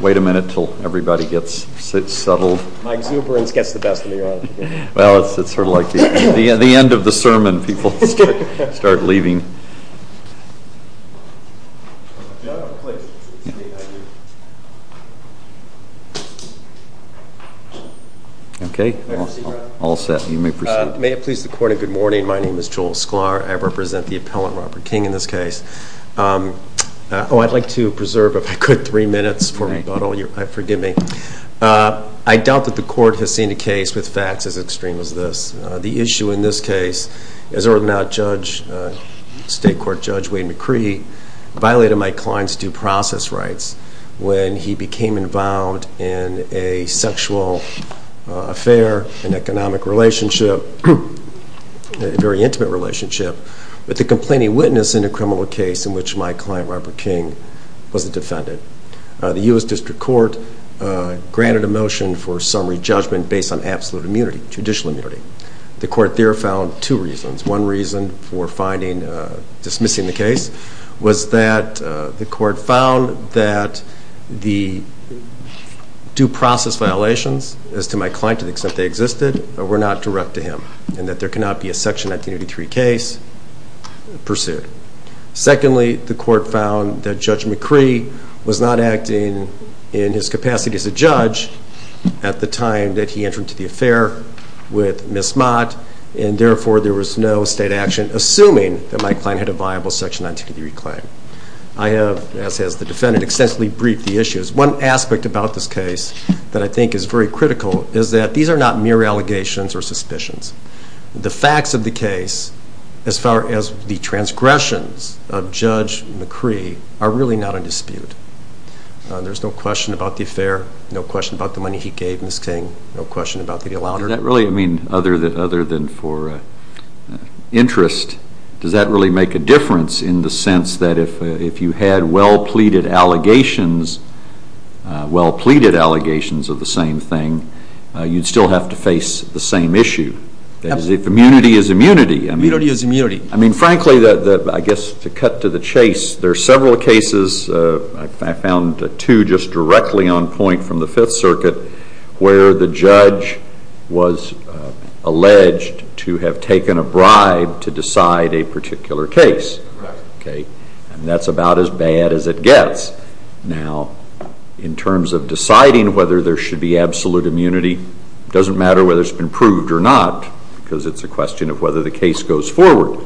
Wait a minute until everybody gets settled. My exuberance gets the best of me. May it please the Court, a good morning. My name is Joel Sklar. I represent the appellant, Robert King, in this case. Oh, I'd like to preserve, if I could, three minutes for rebuttal. Forgive me. I doubt that the Court has seen a case with facts as extreme as this. The issue in this case is that state court Judge Wayne McCree violated my client's due process rights when he became involved in a sexual affair, an economic relationship, a very intimate relationship, with a complaining witness in a criminal case in which my client, Robert King, was the defendant. The U.S. District Court granted a motion for summary judgment based on absolute immunity, judicial immunity. The Court there found two reasons. One reason for dismissing the case was that the Court found that the due process violations, as to my client, to the extent they existed, were not direct to him and that there cannot be a Section 1983 case pursued. Secondly, the Court found that Judge McCree was not acting in his capacity as a judge at the time that he entered into the affair with Ms. Mott, and therefore there was no state action, assuming that my client had a viable Section 1983 claim. I have, as has the defendant, extensively briefed the issues. One aspect about this case that I think is very critical is that these are not mere allegations or suspicions. The facts of the case, as far as the transgressions of Judge McCree, are really not in dispute. There's no question about the affair, no question about the money he gave Ms. King, no question about the allowance. Does that really mean, other than for interest, does that really make a difference in the sense that if you had well-pleaded allegations of the same thing, you'd still have to face the same issue? Absolutely. If immunity is immunity. Immunity is immunity. I mean, frankly, I guess to cut to the chase, there are several cases, I found two just directly on point from the Fifth Circuit, where the judge was alleged to have taken a bribe to decide a particular case. Correct. And that's about as bad as it gets. Now, in terms of deciding whether there should be absolute immunity, it doesn't matter whether it's been proved or not, because it's a question of whether the case goes forward.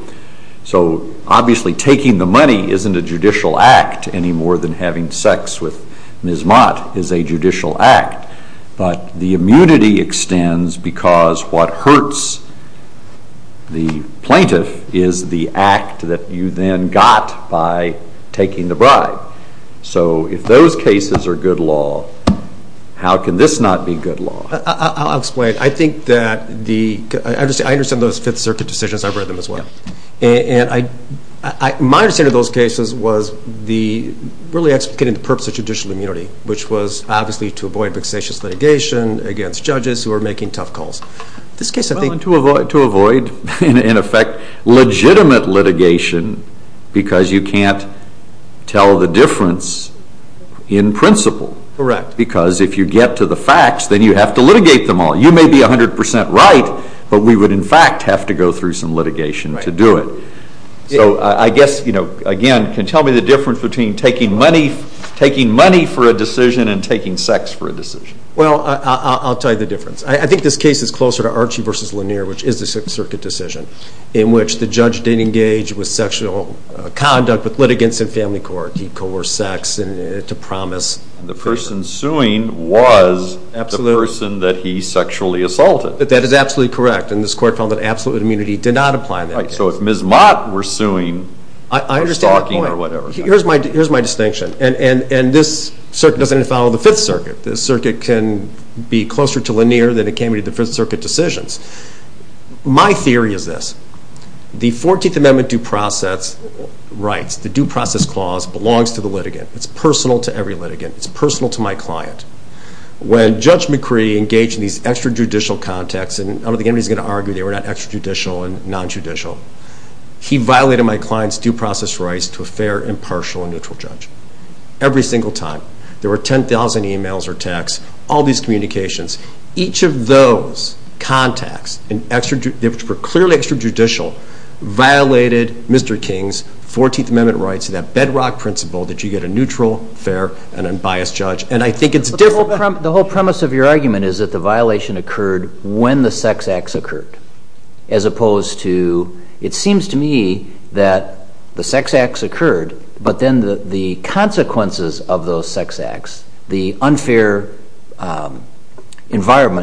So, obviously, taking the money isn't a judicial act any more than having sex with Ms. Mott is a judicial act. But the immunity extends because what hurts the plaintiff is the act that you then got by taking the bribe. So if those cases are good law, how can this not be good law? I'll explain. I think that the – I understand those Fifth Circuit decisions. I've read them as well. And my understanding of those cases was really explicating the purpose of judicial immunity, which was obviously to avoid vexatious litigation against judges who are making tough calls. Well, and to avoid, in effect, legitimate litigation because you can't tell the difference in principle. Correct. Because if you get to the facts, then you have to litigate them all. You may be 100 percent right, but we would, in fact, have to go through some litigation to do it. So I guess, again, can you tell me the difference between taking money for a decision and taking sex for a decision? Well, I'll tell you the difference. I think this case is closer to Archie v. Lanier, which is the Sixth Circuit decision, in which the judge did engage with sexual conduct with litigants in family court. He coerced sex to promise favor. And the person suing was the person that he sexually assaulted. That is absolutely correct. And this court found that absolute immunity did not apply in that case. So if Ms. Mott were suing or stalking or whatever. I understand the point. Here's my distinction. And this circuit doesn't follow the Fifth Circuit. This circuit can be closer to Lanier than it can be to the Fifth Circuit decisions. My theory is this. The 14th Amendment due process rights, the due process clause, belongs to the litigant. It's personal to every litigant. It's personal to my client. When Judge McCree engaged in these extrajudicial contacts, and I don't think anybody's going to argue they were not extrajudicial and nonjudicial, he violated my client's due process rights to a fair, impartial, and neutral judge. Every single time. There were 10,000 emails or texts, all these communications. Each of those contacts, which were clearly extrajudicial, violated Mr. King's 14th Amendment rights to that bedrock principle that you get a neutral, fair, and unbiased judge. And I think it's different. The whole premise of your argument is that the violation occurred when the sex acts occurred, as opposed to it seems to me that the sex acts occurred, but then the consequences of those sex acts, the unfair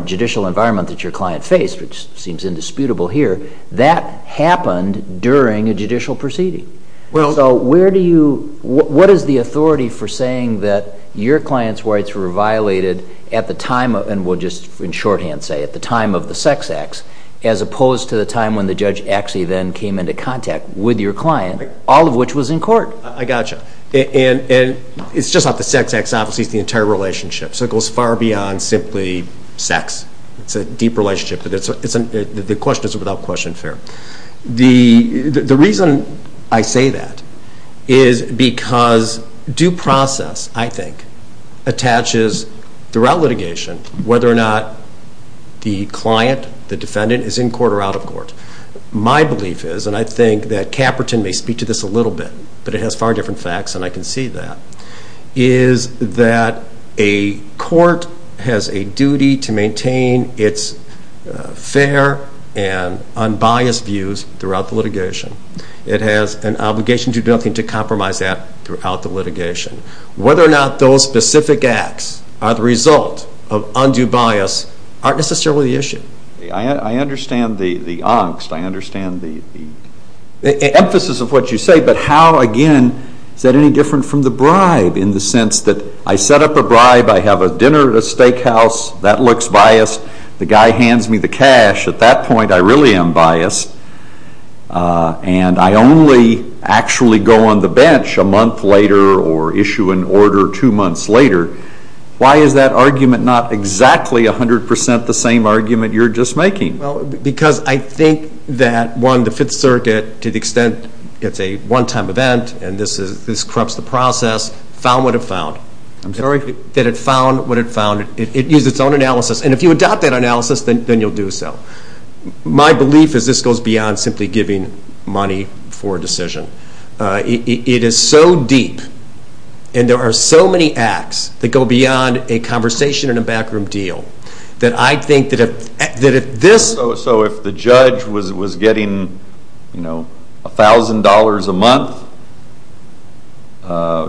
judicial environment that your client faced, which seems indisputable here, that happened during a judicial proceeding. So what is the authority for saying that your client's rights were violated at the time, and we'll just in shorthand say at the time of the sex acts, as opposed to the time when the judge actually then came into contact with your client, all of which was in court? I got you. And it's just not the sex acts. Obviously, it's the entire relationship. So it goes far beyond simply sex. It's a deep relationship, but the question is without question fair. The reason I say that is because due process, I think, attaches throughout litigation whether or not the client, the defendant, is in court or out of court. My belief is, and I think that Caperton may speak to this a little bit, but it has far different facts and I can see that, is that a court has a duty to maintain its fair and unbiased views throughout the litigation. It has an obligation to do nothing to compromise that throughout the litigation. Whether or not those specific acts are the result of undue bias aren't necessarily the issue. I understand the angst. I understand the emphasis of what you say, but how, again, is that any different from the bribe in the sense that I set up a bribe. I have a dinner at a steakhouse. That looks biased. The guy hands me the cash. At that point, I really am biased. And I only actually go on the bench a month later or issue an order two months later. Why is that argument not exactly 100% the same argument you're just making? Because I think that, one, the Fifth Circuit, to the extent it's a one-time event and this corrupts the process, found what it found. I'm sorry? That it found what it found. It used its own analysis. And if you adopt that analysis, then you'll do so. My belief is this goes beyond simply giving money for a decision. It is so deep and there are so many acts that go beyond a conversation and a backroom deal that I think that if this... So if the judge was getting $1,000 a month,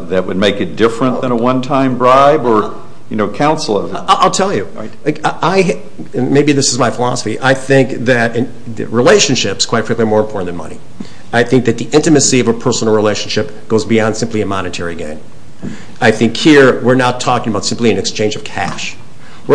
that would make it different than a one-time bribe? I'll tell you. Maybe this is my philosophy. I think that relationships, quite frankly, are more important than money. I think that the intimacy of a personal relationship goes beyond simply a monetary gain. We're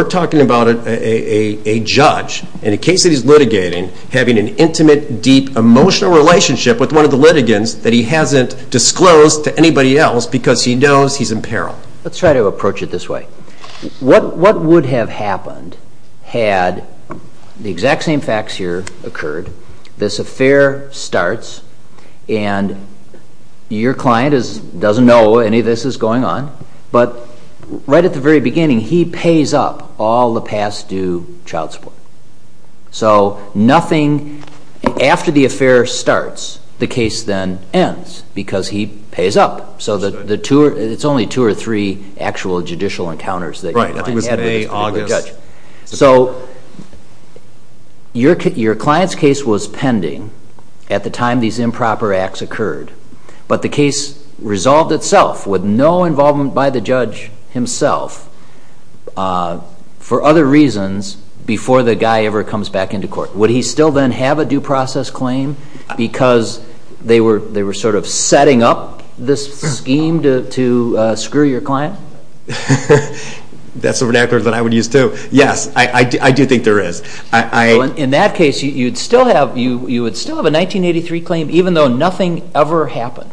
talking about a judge in a case that he's litigating having an intimate, deep, emotional relationship with one of the litigants that he hasn't disclosed to anybody else because he knows he's in peril. Let's try to approach it this way. What would have happened had the exact same facts here occurred, this affair starts, and your client doesn't know any of this is going on, but right at the very beginning, he pays up all the past due child support. So nothing, after the affair starts, the case then ends because he pays up. So it's only two or three actual judicial encounters that your client had with the judge. Right, I think it was May, August. So your client's case was pending at the time these improper acts occurred, but the case resolved itself with no involvement by the judge himself for other reasons before the guy ever comes back into court. Would he still then have a due process claim because they were sort of setting up this scheme to screw your client? That's a vernacular that I would use too. Yes, I do think there is. In that case, you would still have a 1983 claim even though nothing ever happened.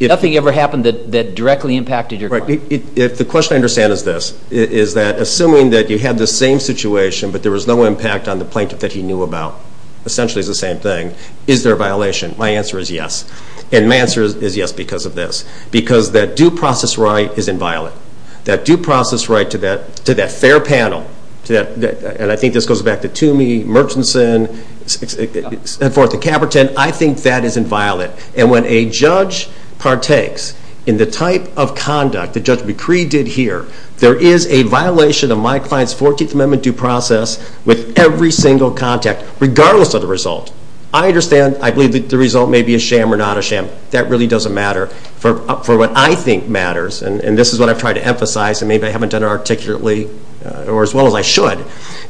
Nothing ever happened that directly impacted your client. The question I understand is this, is that assuming that you had the same situation but there was no impact on the plaintiff that he knew about, essentially it's the same thing, is there a violation? My answer is yes, and my answer is yes because of this, because that due process right is inviolate. That due process right to that fair panel, and I think this goes back to Toomey, Murchinson, and forth, to Caperton, I think that is inviolate. And when a judge partakes in the type of conduct that Judge McCree did here, there is a violation of my client's 14th Amendment due process with every single contact, regardless of the result. I understand, I believe that the result may be a sham or not a sham. That really doesn't matter for what I think matters, and this is what I've tried to emphasize, and maybe I haven't done it articulately as well as I should,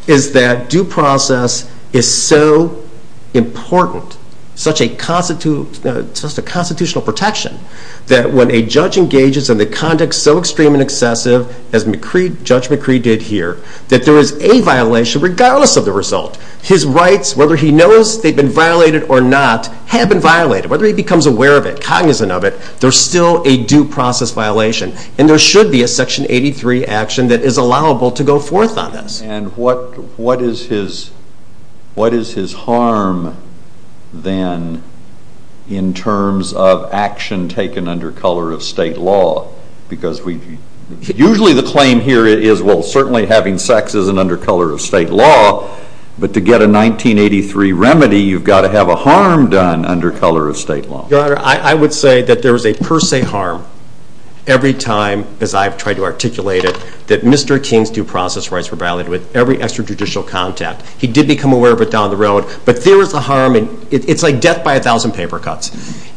is that due process is so important, such a constitutional protection, that when a judge engages in the conduct so extreme and excessive as Judge McCree did here, that there is a violation regardless of the result. His rights, whether he knows they've been violated or not, have been violated. Whether he becomes aware of it, cognizant of it, there's still a due process violation. And there should be a Section 83 action that is allowable to go forth on this. And what is his harm, then, in terms of action taken under color of state law? Because usually the claim here is, well, certainly having sex isn't under color of state law, but to get a 1983 remedy, you've got to have a harm done under color of state law. Your Honor, I would say that there is a per se harm every time, as I've tried to articulate it, that Mr. King's due process rights were violated with every extrajudicial contact. He did become aware of it down the road, but there is a harm, and it's like death by a thousand paper cuts.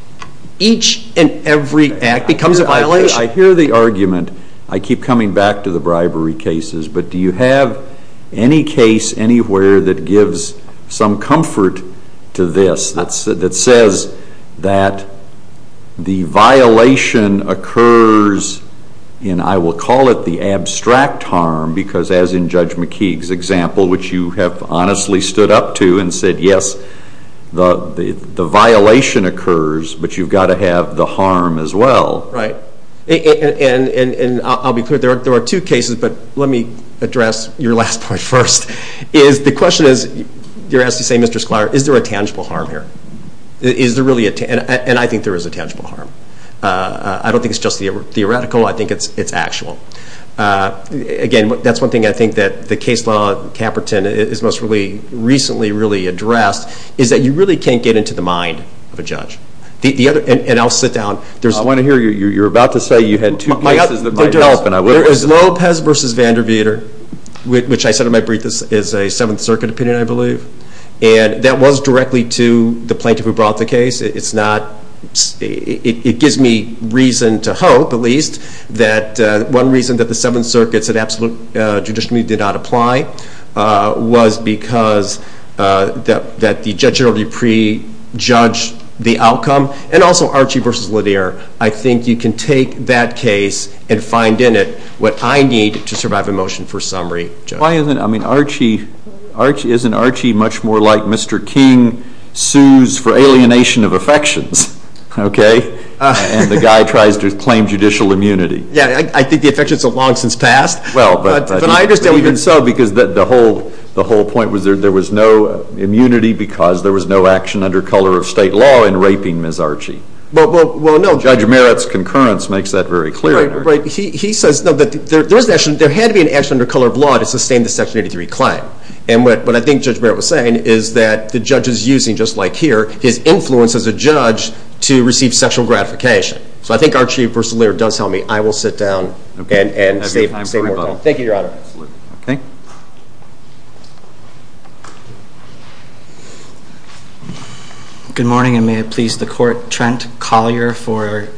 Each and every act becomes a violation. I hear the argument. I keep coming back to the bribery cases, but do you have any case anywhere that gives some comfort to this that says that the violation occurs, and I will call it the abstract harm, because as in Judge McKeague's example, which you have honestly stood up to and said, yes, the violation occurs, but you've got to have the harm as well. Right. And I'll be clear. There are two cases, but let me address your last point first. The question is, you're asking to say, Mr. Sklar, is there a tangible harm here? And I think there is a tangible harm. I don't think it's just theoretical. I think it's actual. Again, that's one thing I think that the case law, Caperton, is most recently really addressed, is that you really can't get into the mind of a judge. And I'll sit down. I want to hear you. You're about to say you had two cases that might help. There is Lopez v. Vanderveer, which I said in my brief is a Seventh Circuit opinion, I believe, and that was directly to the plaintiff who brought the case. It gives me reason to hope, at least, that one reason that the Seventh Circuit said absolute judicially did not apply was because the judge already pre-judged the outcome. And also Archie v. Lanier. I think you can take that case and find in it what I need to survive a motion for summary. Why isn't Archie much more like Mr. King sues for alienation of affections, okay, and the guy tries to claim judicial immunity? Yeah, I think the affections have long since passed. Even so, because the whole point was there was no immunity because there was no action under color of state law in raping Ms. Archie. Judge Merritt's concurrence makes that very clear. He says that there had to be an action under color of law to sustain the Section 83 claim. And what I think Judge Merritt was saying is that the judge is using, just like here, his influence as a judge to receive sexual gratification. So I think Archie v. Lanier does tell me I will sit down and say more. Thank you, Your Honor. Good morning, and may it please the Court. My name is Trent Collier for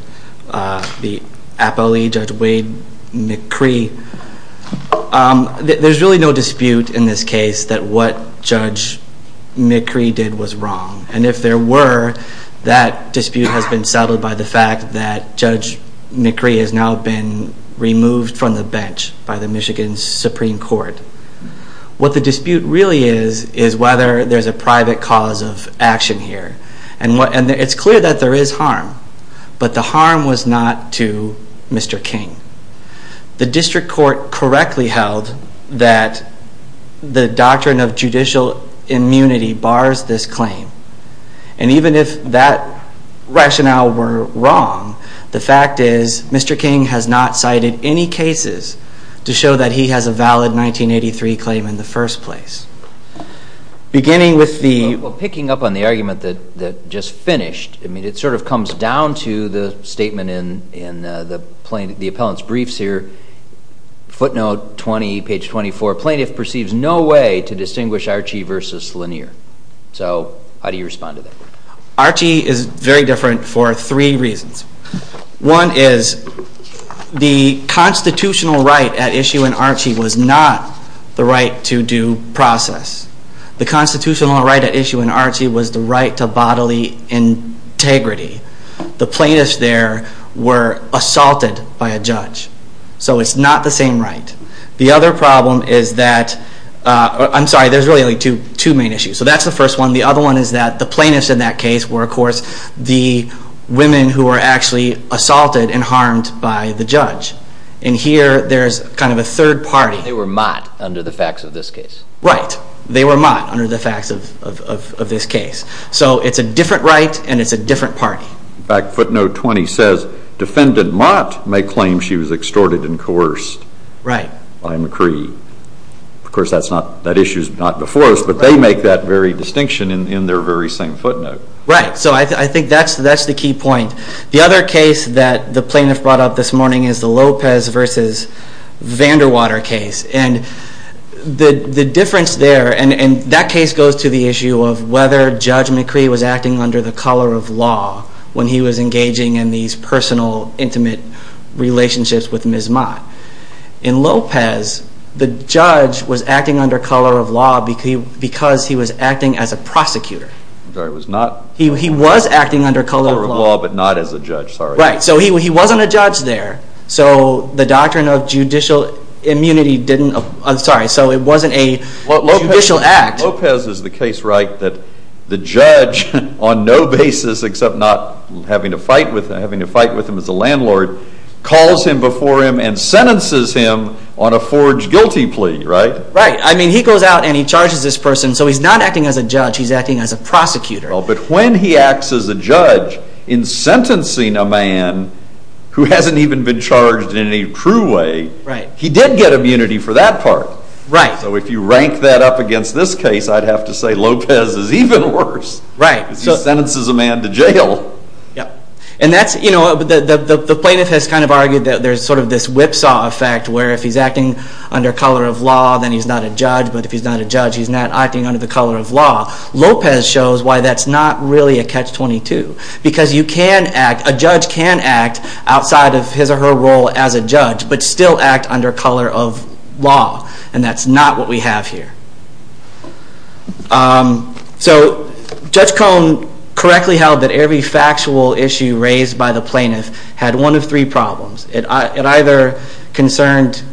the APLE Judge Wade McCree. There's really no dispute in this case that what Judge McCree did was wrong. And if there were, that dispute has been settled by the fact that Judge McCree has now been removed from the bench by the Michigan Supreme Court. What the dispute really is is whether there's a private cause of action here. And it's clear that there is harm. But the harm was not to Mr. King. The district court correctly held that the doctrine of judicial immunity bars this claim. And even if that rationale were wrong, the fact is Mr. King has not cited any cases to show that he has a valid 1983 claim in the first place. Beginning with the... Well, picking up on the argument that just finished, it sort of comes down to the statement in the appellant's briefs here. Footnote 20, page 24. Plaintiff perceives no way to distinguish Archie v. Lanier. So how do you respond to that? Archie is very different for three reasons. One is the constitutional right at issue in Archie was not the right to due process. The constitutional right at issue in Archie was the right to bodily integrity. The plaintiffs there were assaulted by a judge. So it's not the same right. The other problem is that... I'm sorry, there's really only two main issues. So that's the first one. The other one is that the plaintiffs in that case were, of course, the women who were actually assaulted and harmed by the judge. And here there's kind of a third party. They were Mott under the facts of this case. Right. They were Mott under the facts of this case. So it's a different right and it's a different party. In fact, footnote 20 says, Defendant Mott may claim she was extorted and coerced by McCree. Of course, that issue is not before us, but they make that very distinction in their very same footnote. Right. So I think that's the key point. The other case that the plaintiff brought up this morning is the Lopez v. Vanderwater case. And the difference there, and that case goes to the issue of whether Judge McCree was acting under the color of law when he was engaging in these personal, intimate relationships with Ms. Mott. In Lopez, the judge was acting under color of law because he was acting as a prosecutor. He was acting under color of law, but not as a judge. Right. So he wasn't a judge there. So the doctrine of judicial immunity didn't, I'm sorry, so it wasn't a judicial act. Lopez is the case, right, that the judge, on no basis except not having to fight with him as a landlord, calls him before him and sentences him on a forged guilty plea, right? Right. I mean, he goes out and he charges this person. So he's not acting as a judge. He's acting as a prosecutor. Well, but when he acts as a judge in sentencing a man who hasn't even been charged in any true way, he did get immunity for that part. Right. So if you rank that up against this case, I'd have to say Lopez is even worse. Right. Because he sentences a man to jail. Yep. And that's, you know, the plaintiff has kind of argued that there's sort of this whipsaw effect where if he's acting under color of law, then he's not a judge, but if he's not a judge, he's not acting under the color of law. Lopez shows why that's not really a catch-22. Because you can act, a judge can act outside of his or her role as a judge, but still act under color of law. And that's not what we have here. So Judge Cohn correctly held that every factual issue raised by the plaintiff had one of three problems. It either concerned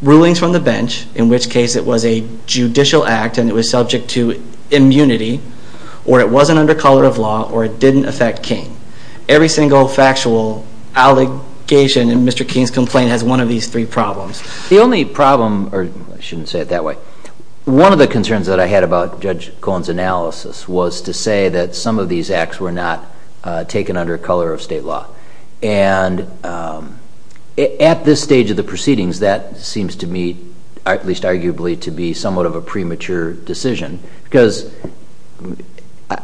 rulings from the bench, in which case it was a judicial act and it was subject to immunity, or it wasn't under color of law, or it didn't affect King. Every single factual allegation in Mr. King's complaint has one of these three problems. The only problem, or I shouldn't say it that way, one of the concerns that I had about Judge Cohn's analysis was to say that some of these acts were not taken under color of state law. And at this stage of the proceedings, that seems to me, at least arguably, to be somewhat of a premature decision. Because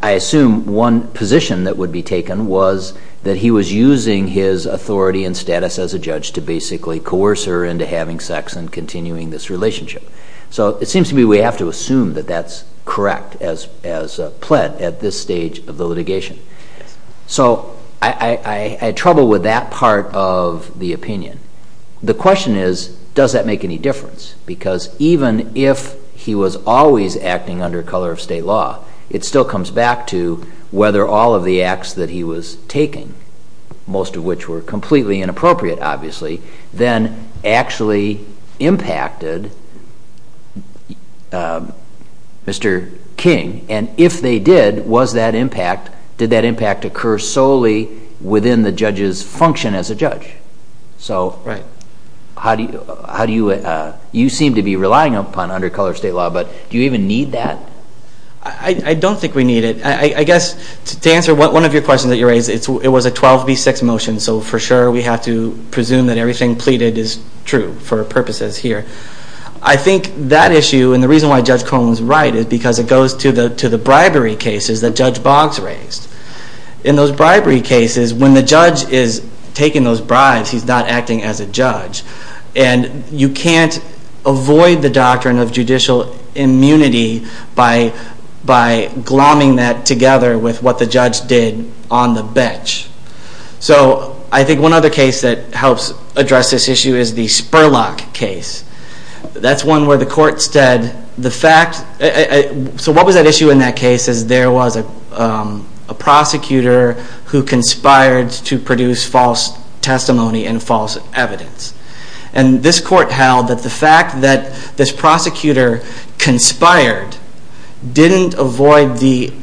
I assume one position that would be taken was that he was using his authority and status as a judge to basically coerce her into having sex and continuing this relationship. So it seems to me we have to assume that that's correct, as pled at this stage of the litigation. So I had trouble with that part of the opinion. The question is, does that make any difference? Because even if he was always acting under color of state law, it still comes back to whether all of the acts that he was taking, most of which were completely inappropriate, obviously, then actually impacted Mr. King. And if they did, was that impact, did that impact occur solely within the judge's function as a judge? So how do you, you seem to be relying upon under color of state law, but do you even need that? I don't think we need it. I guess to answer one of your questions that you raised, it was a 12B6 motion, so for sure we have to presume that everything pleaded is true for purposes here. I think that issue, and the reason why Judge Cohn was right is because it goes to the bribery cases that Judge Boggs raised. In those bribery cases, when the judge is taking those bribes, he's not acting as a judge. And you can't avoid the doctrine of judicial immunity by glomming that together with what the judge did on the bench. So I think one other case that helps address this issue is the Spurlock case. That's one where the court said the fact, so what was at issue in that case is there was a prosecutor who conspired to produce false testimony and false evidence. And this court held that the fact that this prosecutor conspired didn't avoid the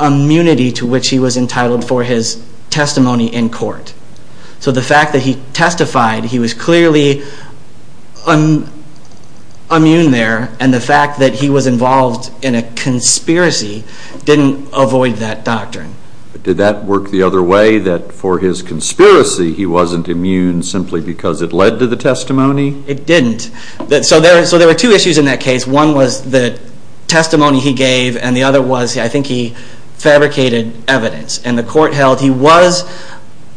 immunity to which he was entitled for his testimony in court. So the fact that he testified, he was clearly immune there, and the fact that he was involved in a conspiracy didn't avoid that doctrine. But did that work the other way, that for his conspiracy he wasn't immune simply because it led to the testimony? It didn't. So there were two issues in that case. One was the testimony he gave, and the other was, I think he fabricated evidence. And the court held he was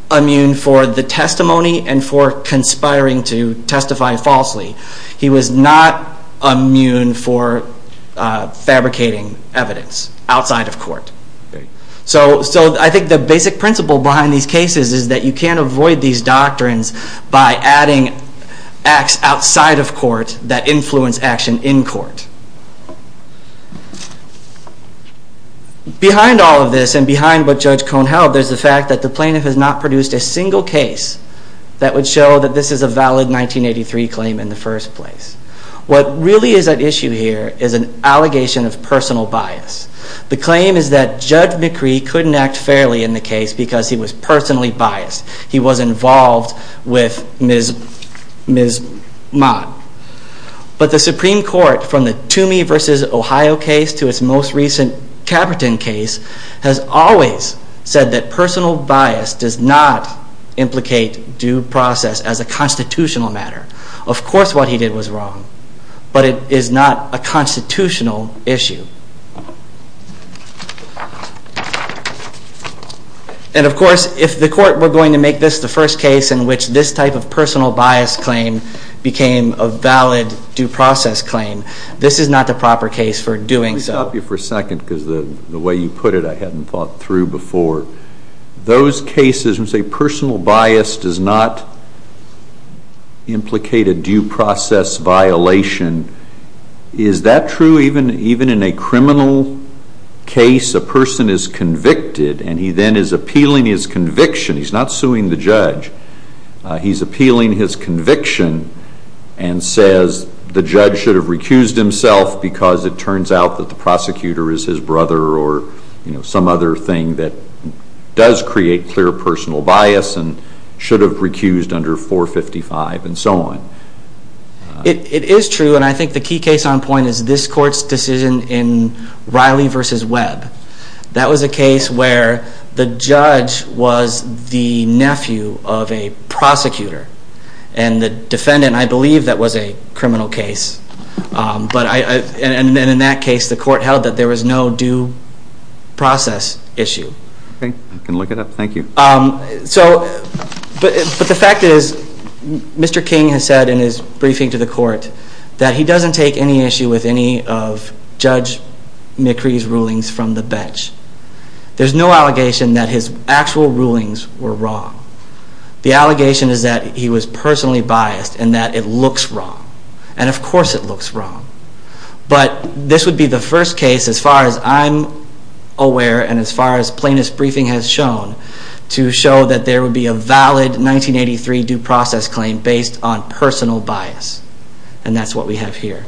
immune for the testimony and for conspiring to testify falsely. He was not immune for fabricating evidence outside of court. So I think the basic principle behind these cases is that you can't avoid these doctrines Behind all of this, and behind what Judge Cohn held, there's the fact that the plaintiff has not produced a single case that would show that this is a valid 1983 claim in the first place. What really is at issue here is an allegation of personal bias. The claim is that Judge McCree couldn't act fairly in the case because he was personally biased. He was involved with Ms. Mott. But the Supreme Court, from the Toomey v. Ohio case to its most recent Caperton case, has always said that personal bias does not implicate due process as a constitutional matter. Of course what he did was wrong, but it is not a constitutional issue. And of course, if the court were going to make this the first case in which this type of personal bias claim became a valid due process claim, this is not the proper case for doing so. Let me stop you for a second, because the way you put it I hadn't thought through before. Those cases when you say personal bias does not implicate a due process violation, is that true even in a criminal case? A person is convicted, and he then is appealing his conviction. He's not suing the judge. He's appealing his conviction and says the judge should have recused himself because it turns out that the prosecutor is his brother or some other thing that does create clear personal bias and should have recused under 455 and so on. It is true, and I think the key case on point is this court's decision in Riley v. Webb. That was a case where the judge was the nephew of a prosecutor, and the defendant, I believe, that was a criminal case. And in that case, the court held that there was no due process issue. Okay, I can look it up. Thank you. But the fact is, Mr. King has said in his briefing to the court that he doesn't take any issue with any of Judge McCree's rulings from the bench. There's no allegation that his actual rulings were wrong. The allegation is that he was personally biased and that it looks wrong. And of course it looks wrong. But this would be the first case, as far as I'm aware and as far as plaintiff's briefing has shown, to show that there would be a valid 1983 due process claim based on personal bias. And that's what we have here.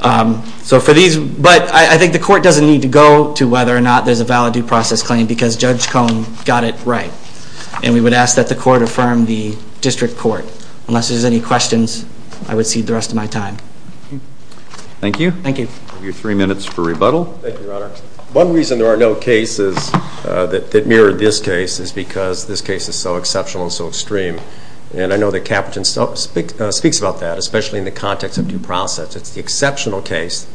But I think the court doesn't need to go to whether or not there's a valid due process claim because Judge Cone got it right. And we would ask that the court affirm the district court. Unless there's any questions, I would cede the rest of my time. Thank you. Thank you. You have three minutes for rebuttal. Thank you, Your Honor. One reason there are no cases that mirror this case is because this case is so exceptional and so extreme. And I know that Capitan speaks about that, especially in the context of due process. It's the exceptional case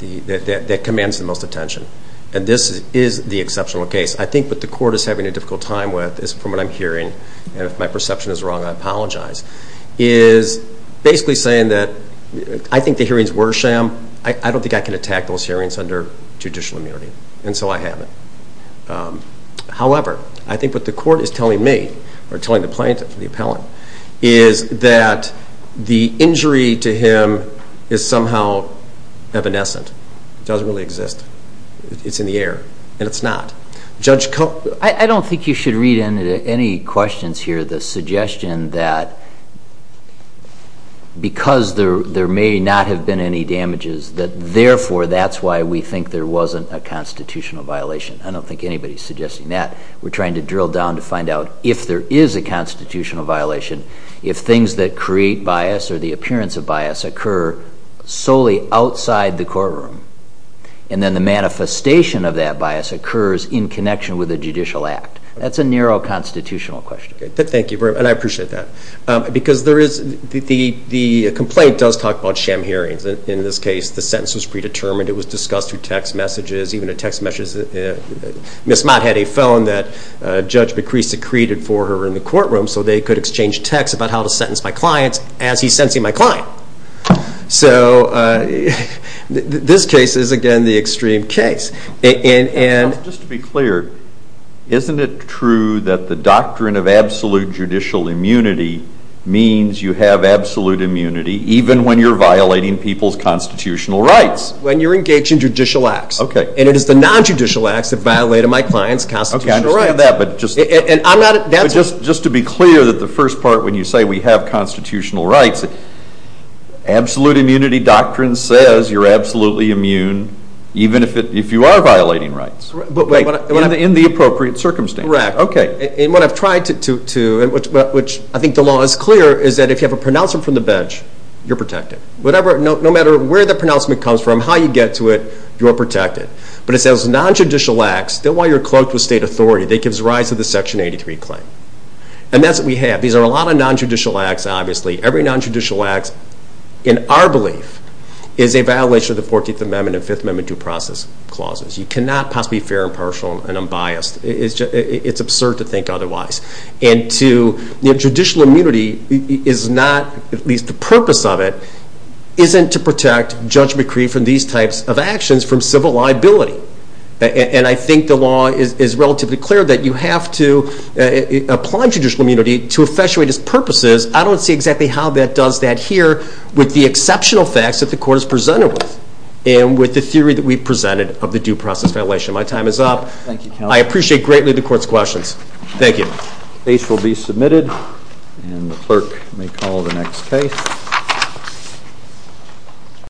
that commands the most attention. And this is the exceptional case. I think what the court is having a difficult time with is from what I'm hearing. And if my perception is wrong, I apologize. It's basically saying that I think the hearings were sham. I don't think I can attack those hearings under judicial immunity. And so I haven't. However, I think what the court is telling me or telling the plaintiff, the appellant, is that the injury to him is somehow evanescent. It doesn't really exist. It's in the air, and it's not. I don't think you should read into any questions here the suggestion that because there may not have been any damages, that therefore that's why we think there wasn't a constitutional violation. I don't think anybody's suggesting that. We're trying to drill down to find out if there is a constitutional violation, if things that create bias or the appearance of bias occur solely outside the courtroom, and then the manifestation of that bias occurs in connection with a judicial act. That's a narrow constitutional question. Thank you, and I appreciate that. Because the complaint does talk about sham hearings. In this case, the sentence was predetermined. It was discussed through text messages. Even a text message. Ms. Mott had a phone that Judge McCree secreted for her in the courtroom so they could exchange texts about how to sentence my client as he's sentencing my client. So this case is, again, the extreme case. Just to be clear, isn't it true that the doctrine of absolute judicial immunity means you have absolute immunity even when you're violating people's constitutional rights? When you're engaged in judicial acts. And it is the non-judicial acts that violate my client's constitutional rights. Okay, I understand that. But just to be clear, the first part when you say we have constitutional rights, absolute immunity doctrine says you're absolutely immune even if you are violating rights. In the appropriate circumstances. Correct. And what I've tried to do, which I think the law is clear, is that if you have a pronouncement from the bench, you're protected. No matter where the pronouncement comes from, how you get to it, you're protected. But it says non-judicial acts, then while you're cloaked with state authority, that gives rise to the Section 83 claim. And that's what we have. These are a lot of non-judicial acts, obviously. Every non-judicial act, in our belief, is a violation of the 14th Amendment and 5th Amendment due process clauses. You cannot possibly be fair and impartial and unbiased. It's absurd to think otherwise. And to... At least the purpose of it isn't to protect Judge McCree from these types of actions, from civil liability. And I think the law is relatively clear that you have to apply judicial immunity to effectuate its purposes. I don't see exactly how that does that here with the exceptional facts that the Court has presented with and with the theory that we've presented of the due process violation. My time is up. I appreciate greatly the Court's questions. Thank you. The case will be submitted. And the clerk may call the next case.